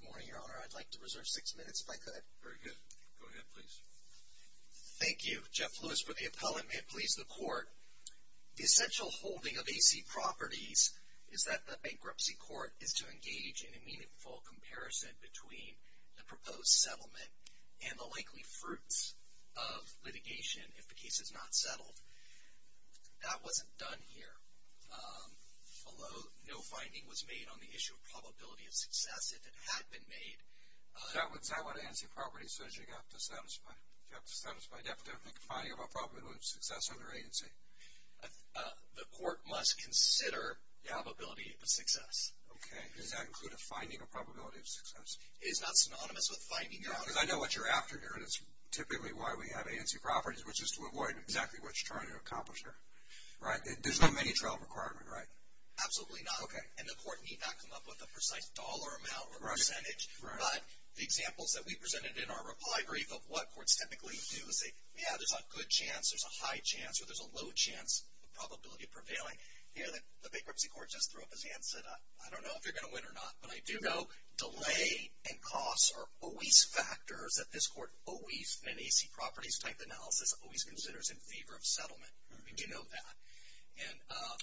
Good morning, Your Honor. I'd like to reserve six minutes if I could. Very good. Go ahead, please. Thank you, Jeff Lewis, for the appellate. May it please the Court, the essential holding of AC properties is that the bankruptcy court is to engage in a meaningful comparison between the proposed settlement and the likely fruits of litigation if the case is not settled. That wasn't done here. Although no finding was made on the issue of probability of success, it had been made. Is that what ANC property says you have to satisfy? You have to satisfy, definitely, the finding of a probability of success under ANC? The Court must consider the probability of success. Okay. Does that include a finding of probability of success? It is not synonymous with finding, Your Honor. Yeah, because I know what you're after here, and it's typically why we have ANC properties, which is to avoid exactly what you're trying to accomplish here, right? There's no mini-trial requirement, right? Absolutely not. Okay. And the Court need not come up with a precise dollar amount or percentage. Right. But the examples that we presented in our reply brief of what courts typically do is say, yeah, there's a good chance, there's a high chance, or there's a low chance of probability prevailing. The bankruptcy court just threw up his hand and said, I don't know if you're going to win or not, but I do know delay and costs are always factors that this Court always, in an ANC properties type analysis, always considers in favor of settlement. And you know that.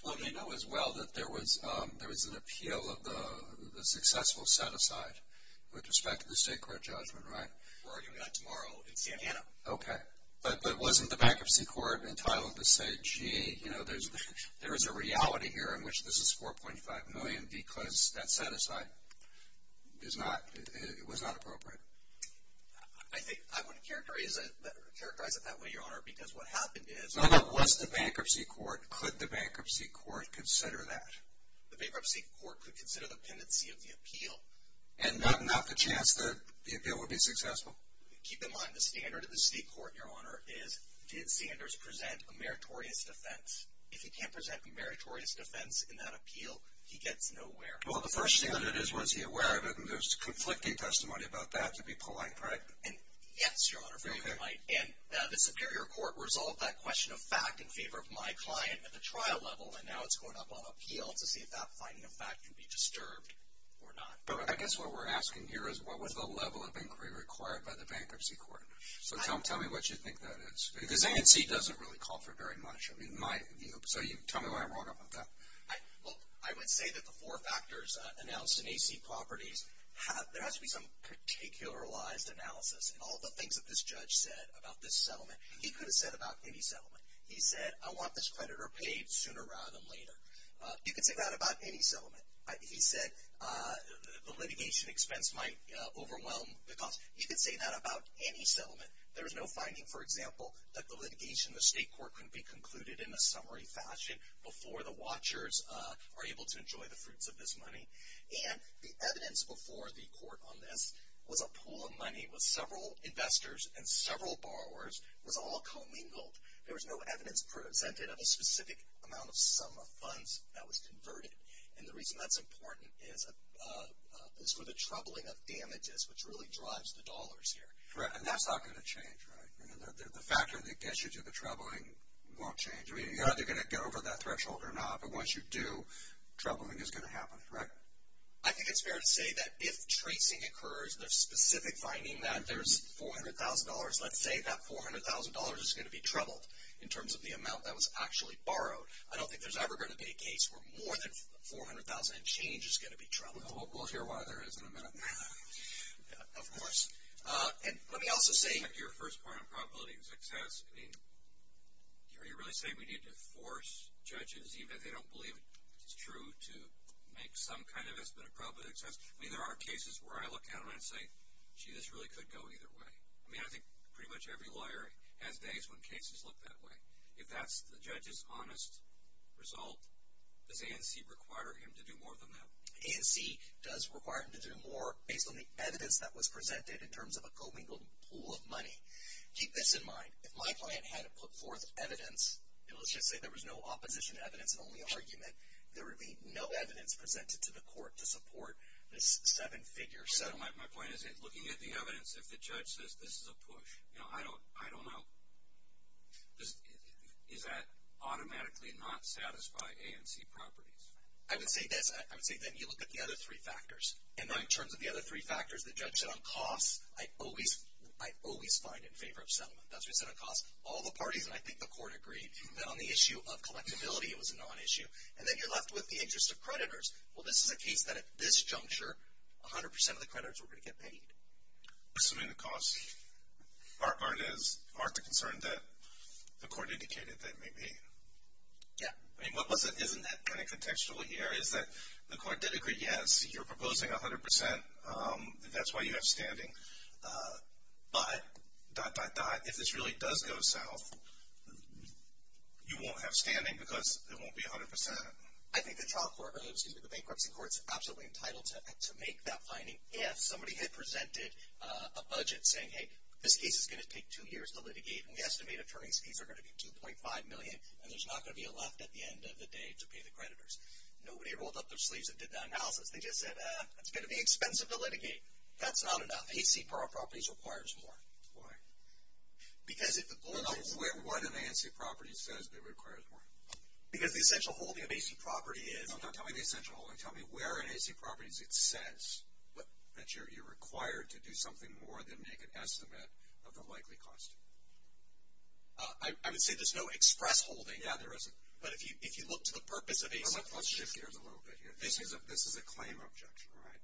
Well, you know as well that there was an appeal of the successful set-aside with respect to the state court judgment, right? We're arguing that tomorrow in San Antonio. Okay. But wasn't the bankruptcy court entitled to say, gee, you know, there is a reality here in which this is $4.5 million because that set-aside was not appropriate. I wouldn't characterize it that way, Your Honor, because what happened is— No, no. Was the bankruptcy court, could the bankruptcy court consider that? The bankruptcy court could consider the pendency of the appeal. And not the chance that the appeal would be successful? Keep in mind the standard of the state court, Your Honor, is did Sanders present a meritorious defense? If he can't present a meritorious defense in that appeal, he gets nowhere. Well, the first thing that it is, was he aware of it? And there's conflicting testimony about that to be polite, correct? Yes, Your Honor, very polite. And the superior court resolved that question of fact in favor of my client at the trial level, and now it's going up on appeal to see if that finding of fact can be disturbed or not. I guess what we're asking here is what was the level of inquiry required by the bankruptcy court? So tell me what you think that is. Because ANC doesn't really call for very much. So tell me why I'm wrong about that. Well, I would say that the four factors announced in ANC properties, there has to be some particularized analysis in all the things that this judge said about this settlement. He could have said about any settlement. He said, I want this creditor paid sooner rather than later. You could say that about any settlement. He said the litigation expense might overwhelm the cost. He could say that about any settlement. There is no finding, for example, that the litigation in the state court could be concluded in a summary fashion before the watchers are able to enjoy the fruits of this money. And the evidence before the court on this was a pool of money with several investors and several borrowers was all commingled. There was no evidence presented of a specific amount of sum of funds that was converted. And the reason that's important is for the troubling of damages, which really drives the dollars here. And that's not going to change, right? The factor that gets you to the troubling won't change. You're either going to get over that threshold or not. But once you do, troubling is going to happen, correct? I think it's fair to say that if tracing occurs, the specific finding that there's $400,000, let's say that $400,000 is going to be troubled in terms of the amount that was actually borrowed. I don't think there's ever going to be a case where more than $400,000 in change is going to be troubled. We'll hear why there is in a minute. Of course. And let me also say... Your first point on probability of success, I mean, are you really saying we need to force judges even if they don't believe it's true to make some kind of estimate of probability of success? I mean, there are cases where I look at them and I say, gee, this really could go either way. I mean, I think pretty much every lawyer has days when cases look that way. If that's the judge's honest result, does ANC require him to do more than that? ANC does require him to do more based on the evidence that was presented in terms of a co-mingled pool of money. Keep this in mind. If my client had to put forth evidence, and let's just say there was no opposition to evidence and only argument, there would be no evidence presented to the court to support this seven-figure settlement. My point is, looking at the evidence, if the judge says this is a push, you know, I don't know. Is that automatically not satisfied ANC properties? I would say this. I would say that you look at the other three factors. And in terms of the other three factors, the judge said on costs, I always find in favor of settlement. That's what he said on costs. All the parties, and I think the court agreed, that on the issue of collectability, it was a non-issue. And then you're left with the interest of creditors. Well, this is a case that at this juncture, 100% of the creditors were going to get paid. Assuming the costs aren't as marked a concern that the court indicated they may be. Yeah. I mean, isn't that kind of contextual here, is that the court did agree, yes, you're proposing 100% and that's why you have standing, but dot, dot, dot, if this really does go south, you won't have standing because it won't be 100%. I think the bankruptcy court is absolutely entitled to make that finding. If somebody had presented a budget saying, hey, this case is going to take two years to litigate and we estimate attorney's fees are going to be $2.5 million and there's not going to be a left at the end of the day to pay the creditors. Nobody rolled up their sleeves and did that analysis. They just said, it's going to be expensive to litigate. That's not enough. AC properties requires more. Why? Because if the board says. What in the AC properties says it requires more? Because the essential holding of AC property is. No, tell me the essential holding. Tell me where in AC properties it says that you're required to do something more than make an estimate of the likely cost. I would say there's no express holding. Yeah, there isn't. But if you look to the purpose of AC properties. Let's shift gears a little bit here. This is a claim objection, right?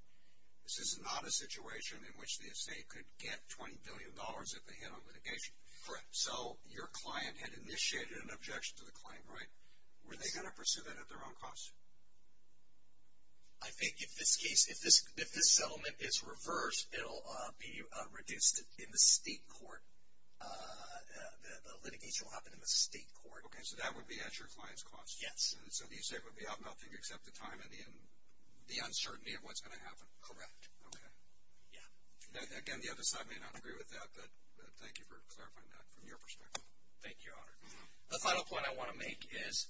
This is not a situation in which the estate could get $20 billion if they hit on litigation. Correct. So your client had initiated an objection to the claim, right? Were they going to pursue that at their own cost? I think if this case. If this settlement is reversed, it'll be reduced in the state court. The litigation will happen in the state court. Okay, so that would be at your client's cost. Yes. So the estate would be out nothing except the time and the uncertainty of what's going to happen. Correct. Okay. Yeah. Again, the other side may not agree with that. But thank you for clarifying that from your perspective. Thank you, Your Honor. The final point I want to make is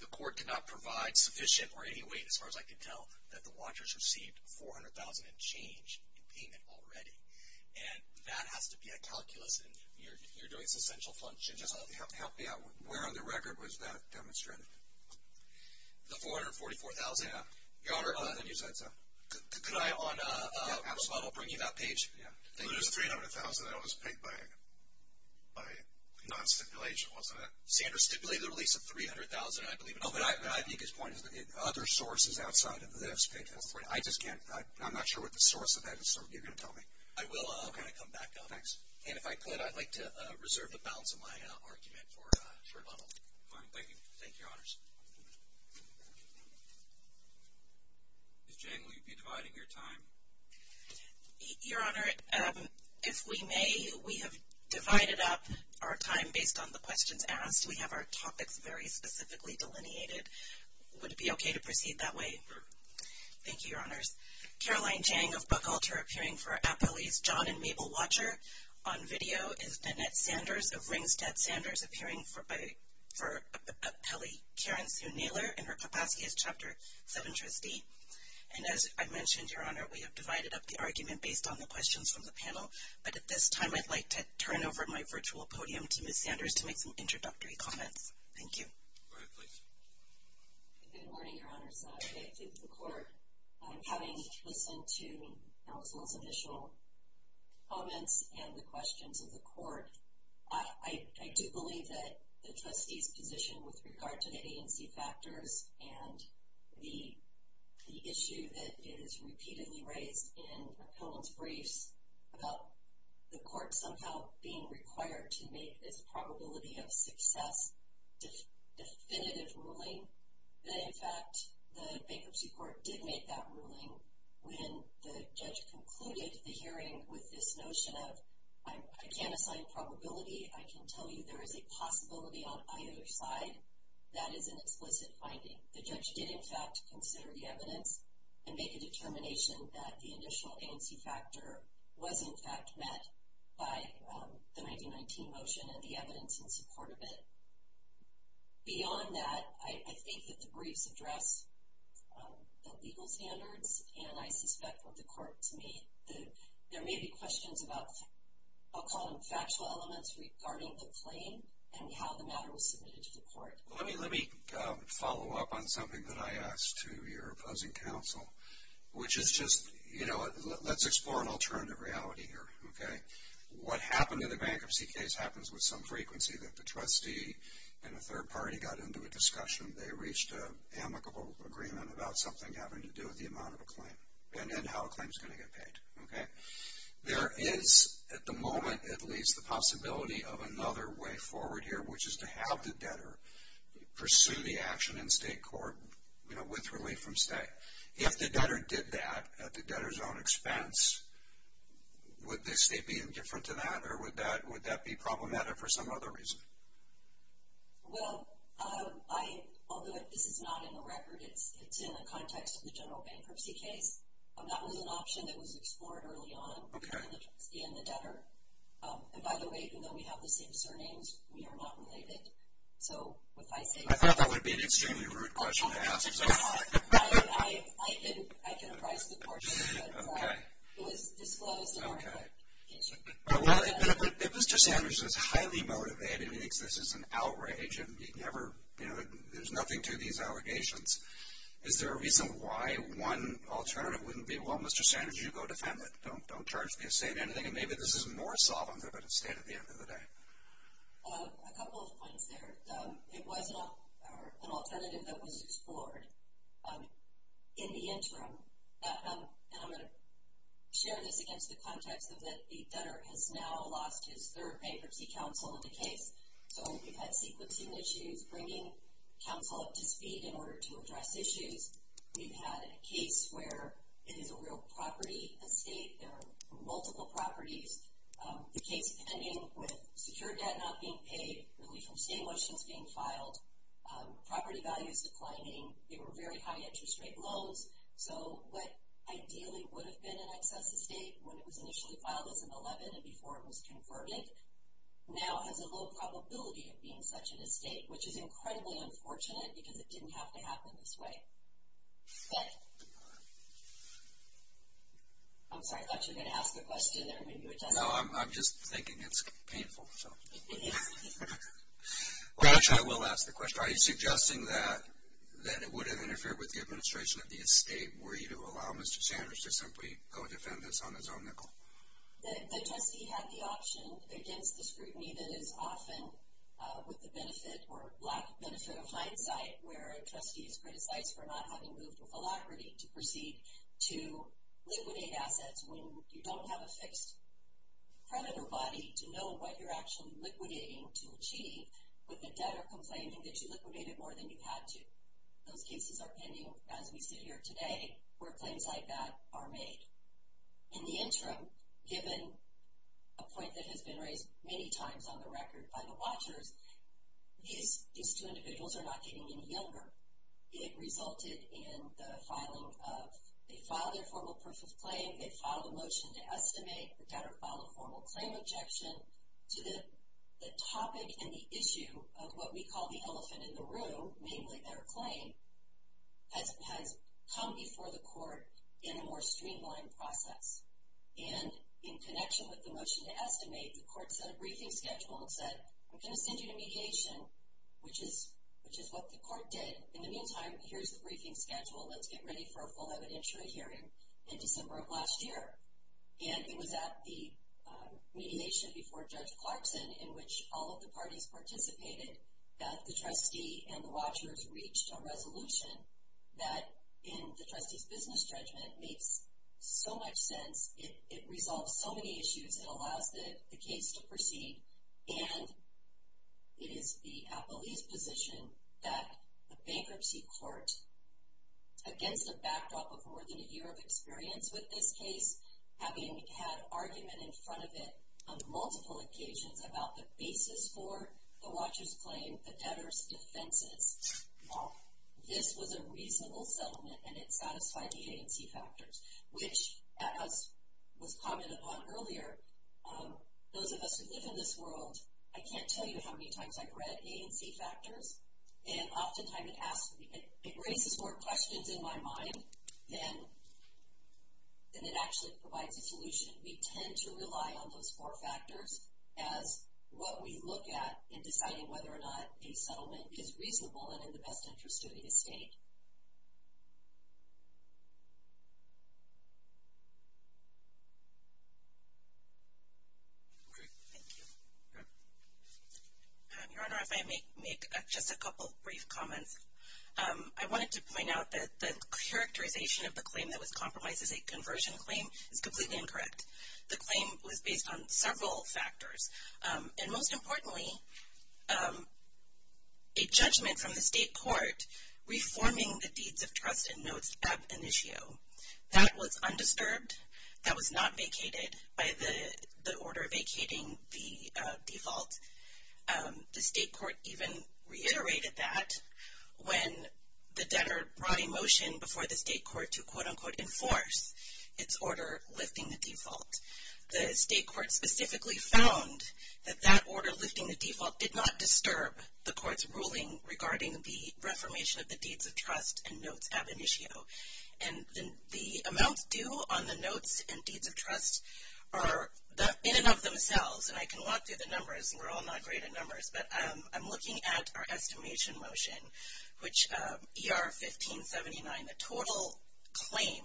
the court cannot provide sufficient or any weight, as far as I can tell, that the watchers received $400,000 in change in payment already. And that has to be a calculus. And you're doing substantial functions. Help me out. Where on the record was that demonstrated? The $444,000? Yeah. Your Honor, could I, on response, bring you that page? Yeah. So there's $300,000 that was paid by non-stipulation, wasn't it? Sanders stipulated a release of $300,000, I believe. Oh, but I think his point is that other sources outside of this paid that $300,000. I just can't. I'm not sure what the source of that is. So you're going to tell me. I will. I'll kind of come back, though. Thanks. And if I could, I'd like to reserve the balance of my argument for rebuttal. Fine. Thank you. Thank you, Your Honors. Ms. Jane, will you be dividing your time? Your Honor, if we may, we have divided up our time based on the questions asked. We have our topics very specifically delineated. Would it be okay to proceed that way? Thank you, Your Honors. Caroline Chang of Buckalter, appearing for Appellee's John and Mabel Watcher. On video is Danette Sanders of Ringstead Sanders, appearing for Appellee Karen Sue Naylor in her Kapatskyist Chapter 7 trustee. And as I mentioned, Your Honor, we have divided up the argument based on the questions from the panel. But at this time, I'd like to turn over my virtual podium to Ms. Sanders to make some introductory comments. Thank you. Go ahead, please. Good morning, Your Honors. I thank the Court. I do believe that the trustee's position with regard to the agency factors and the issue that is repeatedly raised in opponents' briefs about the Court somehow being required to make this probability of success definitive ruling, that, in fact, the Bankruptcy Court did make that ruling when the judge concluded the hearing with this notion of, I can't assign probability. I can tell you there is a possibility on either side that is an explicit finding. The judge did, in fact, consider the evidence and make a determination that the initial agency factor was, in fact, met by the 1919 motion and the evidence in support of it. Beyond that, I think that the briefs address the legal standards. And I suspect with the Court, to me, there may be questions about, I'll call them factual elements, regarding the claim and how the matter was submitted to the Court. Let me follow up on something that I asked to your opposing counsel, which is just, you know, let's explore an alternative reality here, okay? What happened in the bankruptcy case happens with some frequency, that the trustee and a third party got into a discussion. They reached an amicable agreement about something having to do with the amount of a claim and then how a claim is going to get paid, okay? There is, at the moment at least, the possibility of another way forward here, which is to have the debtor pursue the action in state court, you know, with relief from state. If the debtor did that at the debtor's own expense, would the state be indifferent to that or would that be problematic for some other reason? Well, I, although this is not in the record, it's in the context of the general bankruptcy case. That was an option that was explored early on by the trustee and the debtor. And by the way, even though we have the same surnames, we are not related. So, what I say is... I thought that would be an extremely rude question to ask. I can advise the Court, but it was disclosed in our application. Well, if Mr. Sanders is highly motivated and thinks this is an outrage and he never, you know, there's nothing to these allegations, is there a reason why one alternative wouldn't be, well, Mr. Sanders, you go to family. Don't charge the estate anything. And maybe this is more solvent of an estate at the end of the day. A couple of points there. It was an alternative that was explored in the interim. And I'm going to share this against the context of that the debtor has now lost his third bankruptcy counsel in the case. So, we've had sequencing issues, bringing counsel up to speed in order to address issues. We've had a case where it is a real property estate. There are multiple properties. The case pending with secure debt not being paid, relief from state motions being filed, property values declining. They were very high interest rate loans. So, what ideally would have been an excess estate when it was initially filed as an 11 and before it was confirmed, now has a low probability of being such an estate, which is incredibly unfortunate because it didn't have to happen this way. But, I'm sorry, I thought you were going to ask a question. No, I'm just thinking it's painful. I will ask the question. If I'm suggesting that it would have interfered with the administration of the estate, were you to allow Mr. Sanders to simply go defend this on his own nickel? The trustee had the option against the scrutiny that is often with the benefit or lack of benefit of hindsight where a trustee is criticized for not having moved with alacrity to proceed to liquidate assets when you don't have a fixed predator body to know what you're actually liquidating to achieve with the debtor complaining that you liquidated more than you had to. Those cases are pending as we sit here today where claims like that are made. In the interim, given a point that has been raised many times on the record by the watchers, these two individuals are not getting any younger. It resulted in the filing of, they filed their formal proof of claim, they filed a motion to estimate, the debtor filed a formal claim objection to the topic and the issue of what we call the elephant in the room, namely their claim, has come before the court in a more streamlined process. And in connection with the motion to estimate, the court set a briefing schedule and said, I'm going to send you to mediation, which is what the court did. In the meantime, here's the briefing schedule. Let's get ready for a full evidentiary hearing in December of last year. And it was at the mediation before Judge Clarkson in which all of the parties participated that the trustee and the watchers reached a resolution that, in the trustee's business judgment, makes so much sense. It resolves so many issues. It allows the case to proceed. And it is the appellee's position that the bankruptcy court, against the backdrop of more than a year of experience with this case, having had argument in front of it on multiple occasions about the basis for the watcher's claim, the debtor's defenses, this was a reasonable settlement and it satisfied the A&C factors, which as was commented on earlier, those of us who live in this world, I can't tell you how many times I've read A&C factors, and oftentimes it raises more questions in my mind than it actually provides a solution. We tend to rely on those four factors as what we look at in deciding whether or not a settlement is reasonable and in the best interest of the estate. Okay. Thank you. Your Honor, if I may make just a couple brief comments. I wanted to point out that the characterization of the claim that was compromised as a conversion claim is completely incorrect. The claim was based on several factors. And most importantly, a judgment from the state court reforming the deeds of trust and notes ab initio. That was undisturbed. That was not vacated by the order vacating the default. The state court even reiterated that when the debtor brought a motion before the state court to, quote, unquote, enforce its order lifting the default. The state court specifically found that that order lifting the default did not disturb the court's ruling regarding the reformation of the deeds of trust and notes ab initio. And the amount due on the notes and deeds of trust are in and of themselves, and I can walk through the numbers, and we're all not great at numbers, but I'm looking at our estimation motion, which ER 1579, the total claim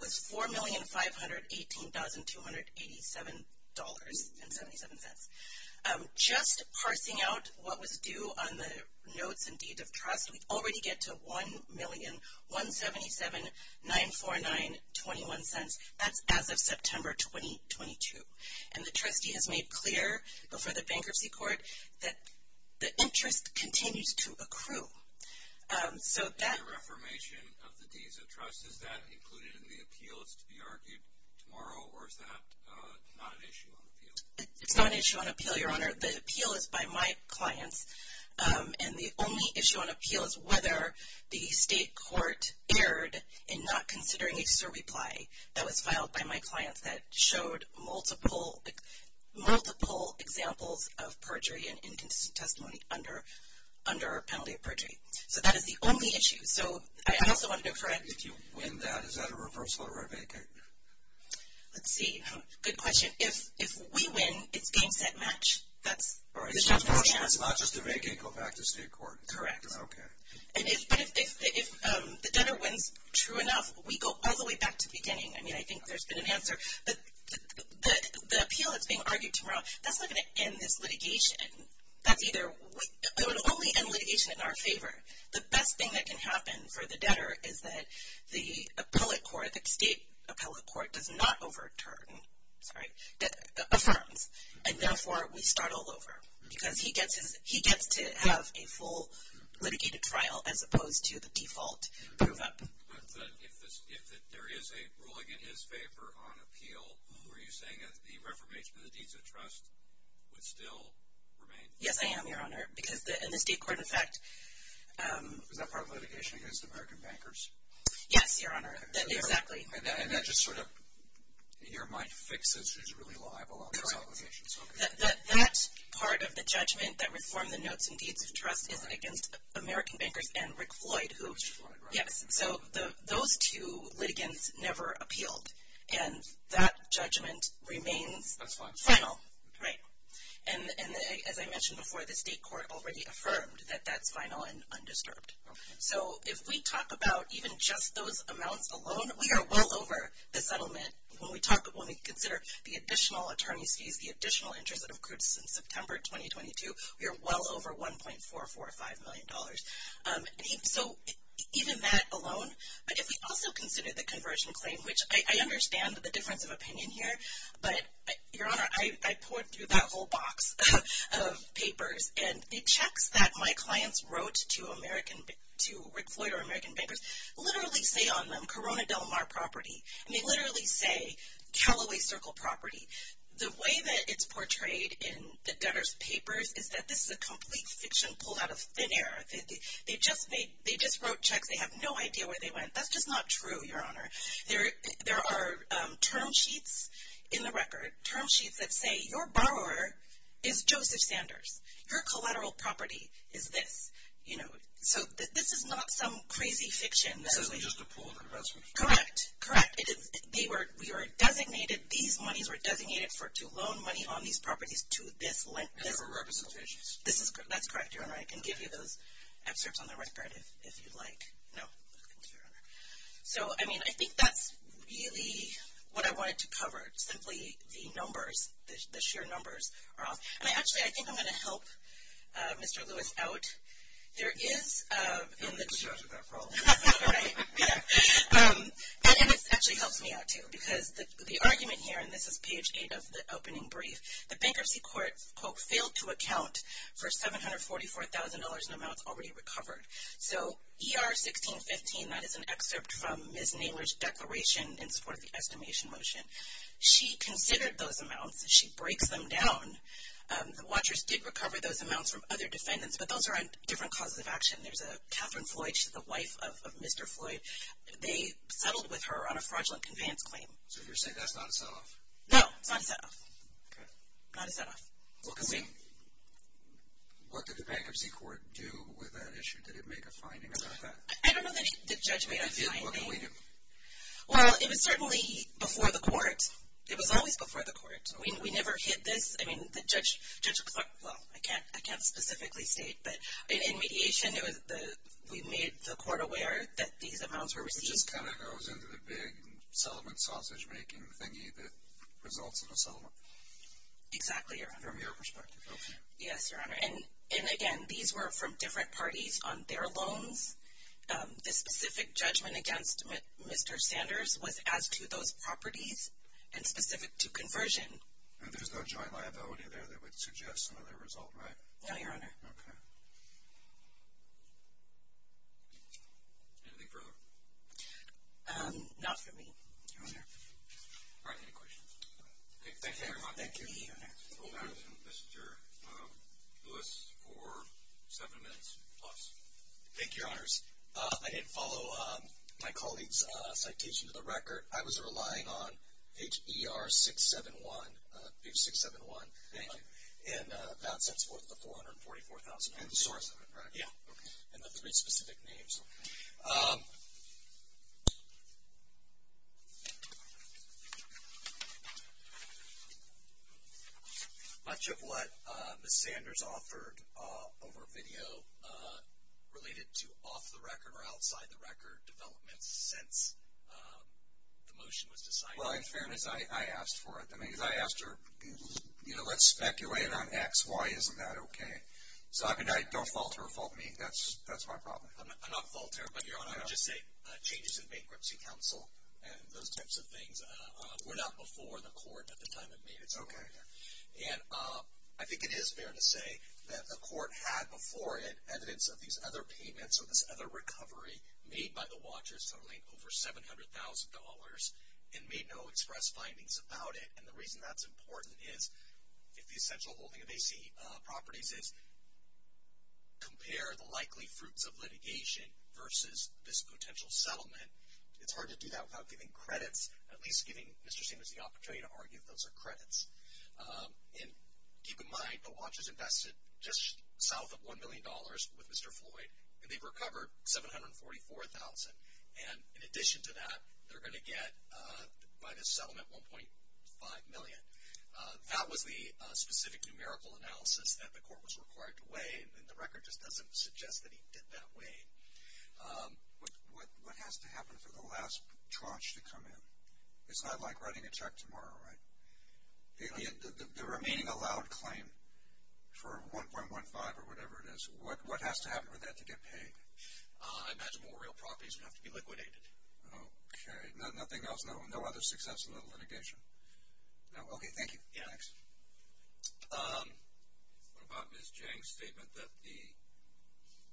was $4,518,287.77. Just parsing out what was due on the notes and deeds of trust, we already get to $1,177,949.21. That's as of September 2022. And the trustee has made clear before the bankruptcy court that the interest continues to accrue. So that… In the reformation of the deeds of trust, is that included in the appeal that's to be argued tomorrow, or is that not an issue on appeal? It's not an issue on appeal, Your Honor. The appeal is by my clients, and the only issue on appeal is whether the state court erred in not considering that was filed by my clients that showed multiple examples of perjury and inconsistent testimony under our penalty of perjury. So that is the only issue. So I also want to know, Fred… If you win that, is that a reversal or a vacate? Let's see. Good question. If we win, it's game, set, match. It's not just a vacate, go back to state court. Correct. Okay. But if the debtor wins, true enough, we go all the way back to beginning. I mean, I think there's been an answer. But the appeal that's being argued tomorrow, that's not going to end this litigation. That's either… It would only end litigation in our favor. The best thing that can happen for the debtor is that the appellate court, the state appellate court, does not overturn, sorry, affirms, and therefore we start all over because he gets to have a full litigated trial as opposed to the default move up. But if there is a ruling in his favor on appeal, were you saying that the reformation of the deeds of trust would still remain? Yes, I am, Your Honor, because in this state court effect… Is that part of litigation against American bankers? Yes, Your Honor, exactly. And that just sort of, in your mind, fixes, is really liable on this obligation. That part of the judgment that reformed the notes and deeds of trust is against American bankers and Rick Floyd, who… Rick Floyd, right. Yes, so those two litigants never appealed, and that judgment remains final. And as I mentioned before, the state court already affirmed that that's final and undisturbed. So if we talk about even just those amounts alone, we are well over the settlement. When we consider the additional attorney's fees, the additional interest that accrued since September 2022, we are well over $1.445 million. So even that alone, if we also consider the conversion claim, which I understand the difference of opinion here, but, Your Honor, I poured through that whole box of papers, and the checks that my clients wrote to Rick Floyd or American bankers literally say on them, Corona Del Mar property. And they literally say Callaway Circle property. The way that it's portrayed in the debtor's papers is that this is a complete fiction pulled out of thin air. They just wrote checks. They have no idea where they went. That's just not true, Your Honor. There are term sheets in the record, term sheets that say, Your borrower is Joseph Sanders. Your collateral property is this. So this is not some crazy fiction. So it's just a pool of the rest of them. Correct. Correct. These monies were designated to loan money on these properties to this lender. That's correct, Your Honor. I can give you those excerpts on the record if you'd like. No. Thank you, Your Honor. So, I mean, I think that's really what I wanted to cover. Simply the numbers, the sheer numbers are off. Actually, I think I'm going to help Mr. Lewis out. There is in the... You can judge with that problem. Right. Yeah. And this actually helps me out, too, because the argument here, and this is page 8 of the opening brief, the bankruptcy court, quote, failed to account for $744,000 in amounts already recovered. So ER 1615, that is an excerpt from Ms. Naylor's declaration in support of the estimation motion. She considered those amounts. She breaks them down. The watchers did recover those amounts from other defendants, but those are on different causes of action. There's a Catherine Floyd. She's the wife of Mr. Floyd. They settled with her on a fraudulent conveyance claim. So you're saying that's not a set-off? No, it's not a set-off. Okay. Not a set-off. What did the bankruptcy court do with that issue? Did it make a finding about that? I don't know that the judge made a finding. If it did, what could we do? Well, it was certainly before the court. It was always before the court. We never hit this. I mean, Judge Clark, well, I can't specifically state. But in mediation, we made the court aware that these amounts were received. It just kind of goes into the big settlement sausage-making thingy that results in a settlement. Exactly, Your Honor. From your perspective. Yes, Your Honor. And, again, these were from different parties on their loans. The specific judgment against Mr. Sanders was as to those properties and specific to conversion. And there's no joint liability there that would suggest another result, right? No, Your Honor. Okay. Anything further? Not for me, Your Honor. All right. Any questions? Okay. Thank you very much. Thank you, Your Honor. Mr. Lewis for seven minutes plus. Thank you, Your Honors. I didn't follow my colleague's citation to the record. I was relying on page ER671, page 671. Thank you. And that sets forth the $444,000. And the source of it, right? Yeah. Okay. And the three specific names. Okay. Much of what Ms. Sanders offered over video related to off-the-record or outside-the-record developments since the motion was decided. Well, in fairness, I asked for it. I mean, because I asked her, you know, let's speculate on X, Y, isn't that okay? So, I mean, don't fault her or fault me. That's my problem. I'm not faulting her. But, Your Honor, I would just say changes to the Bankruptcy Council and those types of things were not before the court at the time it made its opinion. Okay. And I think it is fair to say that the court had before it evidence of these other payments or this other recovery made by the Watchers totaling over $700,000 and made no express findings about it. And the reason that's important is, if the essential holding of AC properties is compare the likely fruits of litigation versus this potential settlement, it's hard to do that without giving credits, at least giving Mr. Sanders the opportunity to argue if those are credits. And keep in mind, the Watchers invested just south of $1 million with Mr. Floyd, and they've recovered $744,000. And in addition to that, they're going to get by this settlement $1.5 million. That was the specific numerical analysis that the court was required to weigh, and the record just doesn't suggest that he did that weighing. What has to happen for the last tranche to come in? It's not like writing a check tomorrow, right? The remaining allowed claim for $1.15 or whatever it is, what has to happen for that to get paid? I imagine more real properties would have to be liquidated. Okay. Nothing else? No other success in the litigation? No. Okay. Thank you. Yeah. Next. What about Ms. Jang's statement that the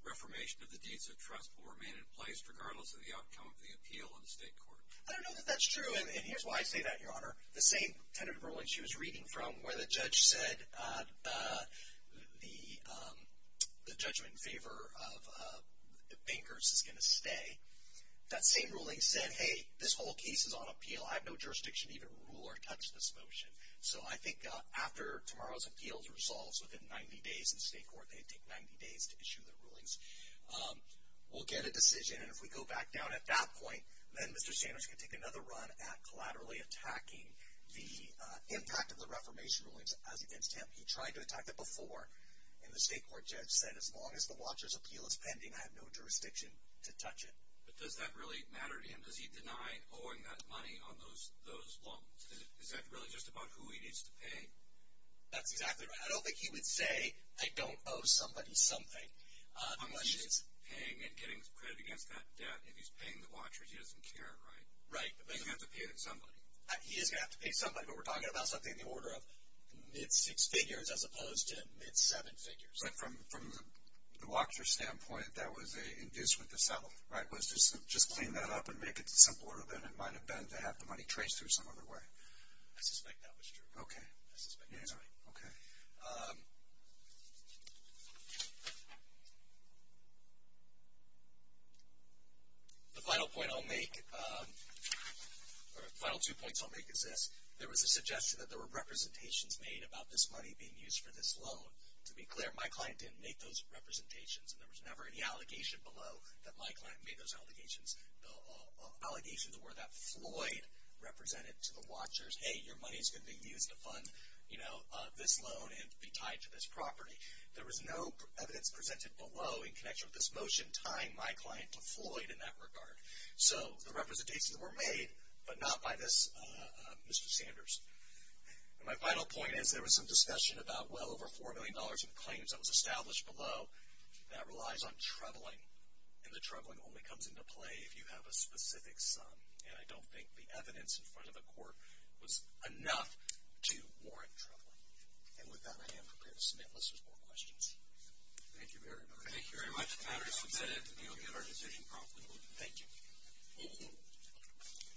reformation of the deeds of trust will remain in place regardless of the outcome of the appeal in the state court? I don't know that that's true, and here's why I say that, Your Honor. The same tentative ruling she was reading from, where the judge said the judgment in favor of the bankers is going to stay, that same ruling said, hey, this whole case is on appeal. I have no jurisdiction to even rule or touch this motion. So I think after tomorrow's appeal resolves within 90 days in state court, they take 90 days to issue their rulings. We'll get a decision, and if we go back down at that point, then Mr. Sanders can take another run at collaterally attacking the impact of the reformation rulings as against him. He tried to attack it before, and the state court judge said, as long as the watcher's appeal is pending, I have no jurisdiction to touch it. But does that really matter to him? Does he deny owing that money on those loans? Is that really just about who he needs to pay? That's exactly right. I don't think he would say, I don't owe somebody something. Unless he's paying and getting credit against that debt. If he's paying the watchers, he doesn't care, right? Right. He's going to have to pay somebody. He is going to have to pay somebody, but we're talking about something in the order of mid-six figures as opposed to mid-seven figures. So from the watcher's standpoint, that was an inducement to sell, right? Was to just clean that up and make it simpler than it might have been to have the money traced through some other way? I suspect that was true. Okay. I suspect that's right. Okay. The final point I'll make, or the final two points I'll make is this. There was a suggestion that there were representations made about this money being used for this loan. To be clear, my client didn't make those representations, and there was never any allegation below that my client made those allegations. The allegations were that Floyd represented to the watchers, hey, your money is going to be used to fund, you know, this loan and be tied to this property. There was no evidence presented below in connection with this motion tying my client to Floyd in that regard. So the representations were made, but not by this Mr. Sanders. My final point is there was some discussion about well over $4 million in claims that was established below that relies on troubling, and the troubling only comes into play if you have a specific sum. And I don't think the evidence in front of the court was enough to warrant troubling. And with that, I am prepared to submit unless there's more questions. Thank you very much. Thank you very much. The matter is submitted. We will get our decision promptly. Thank you.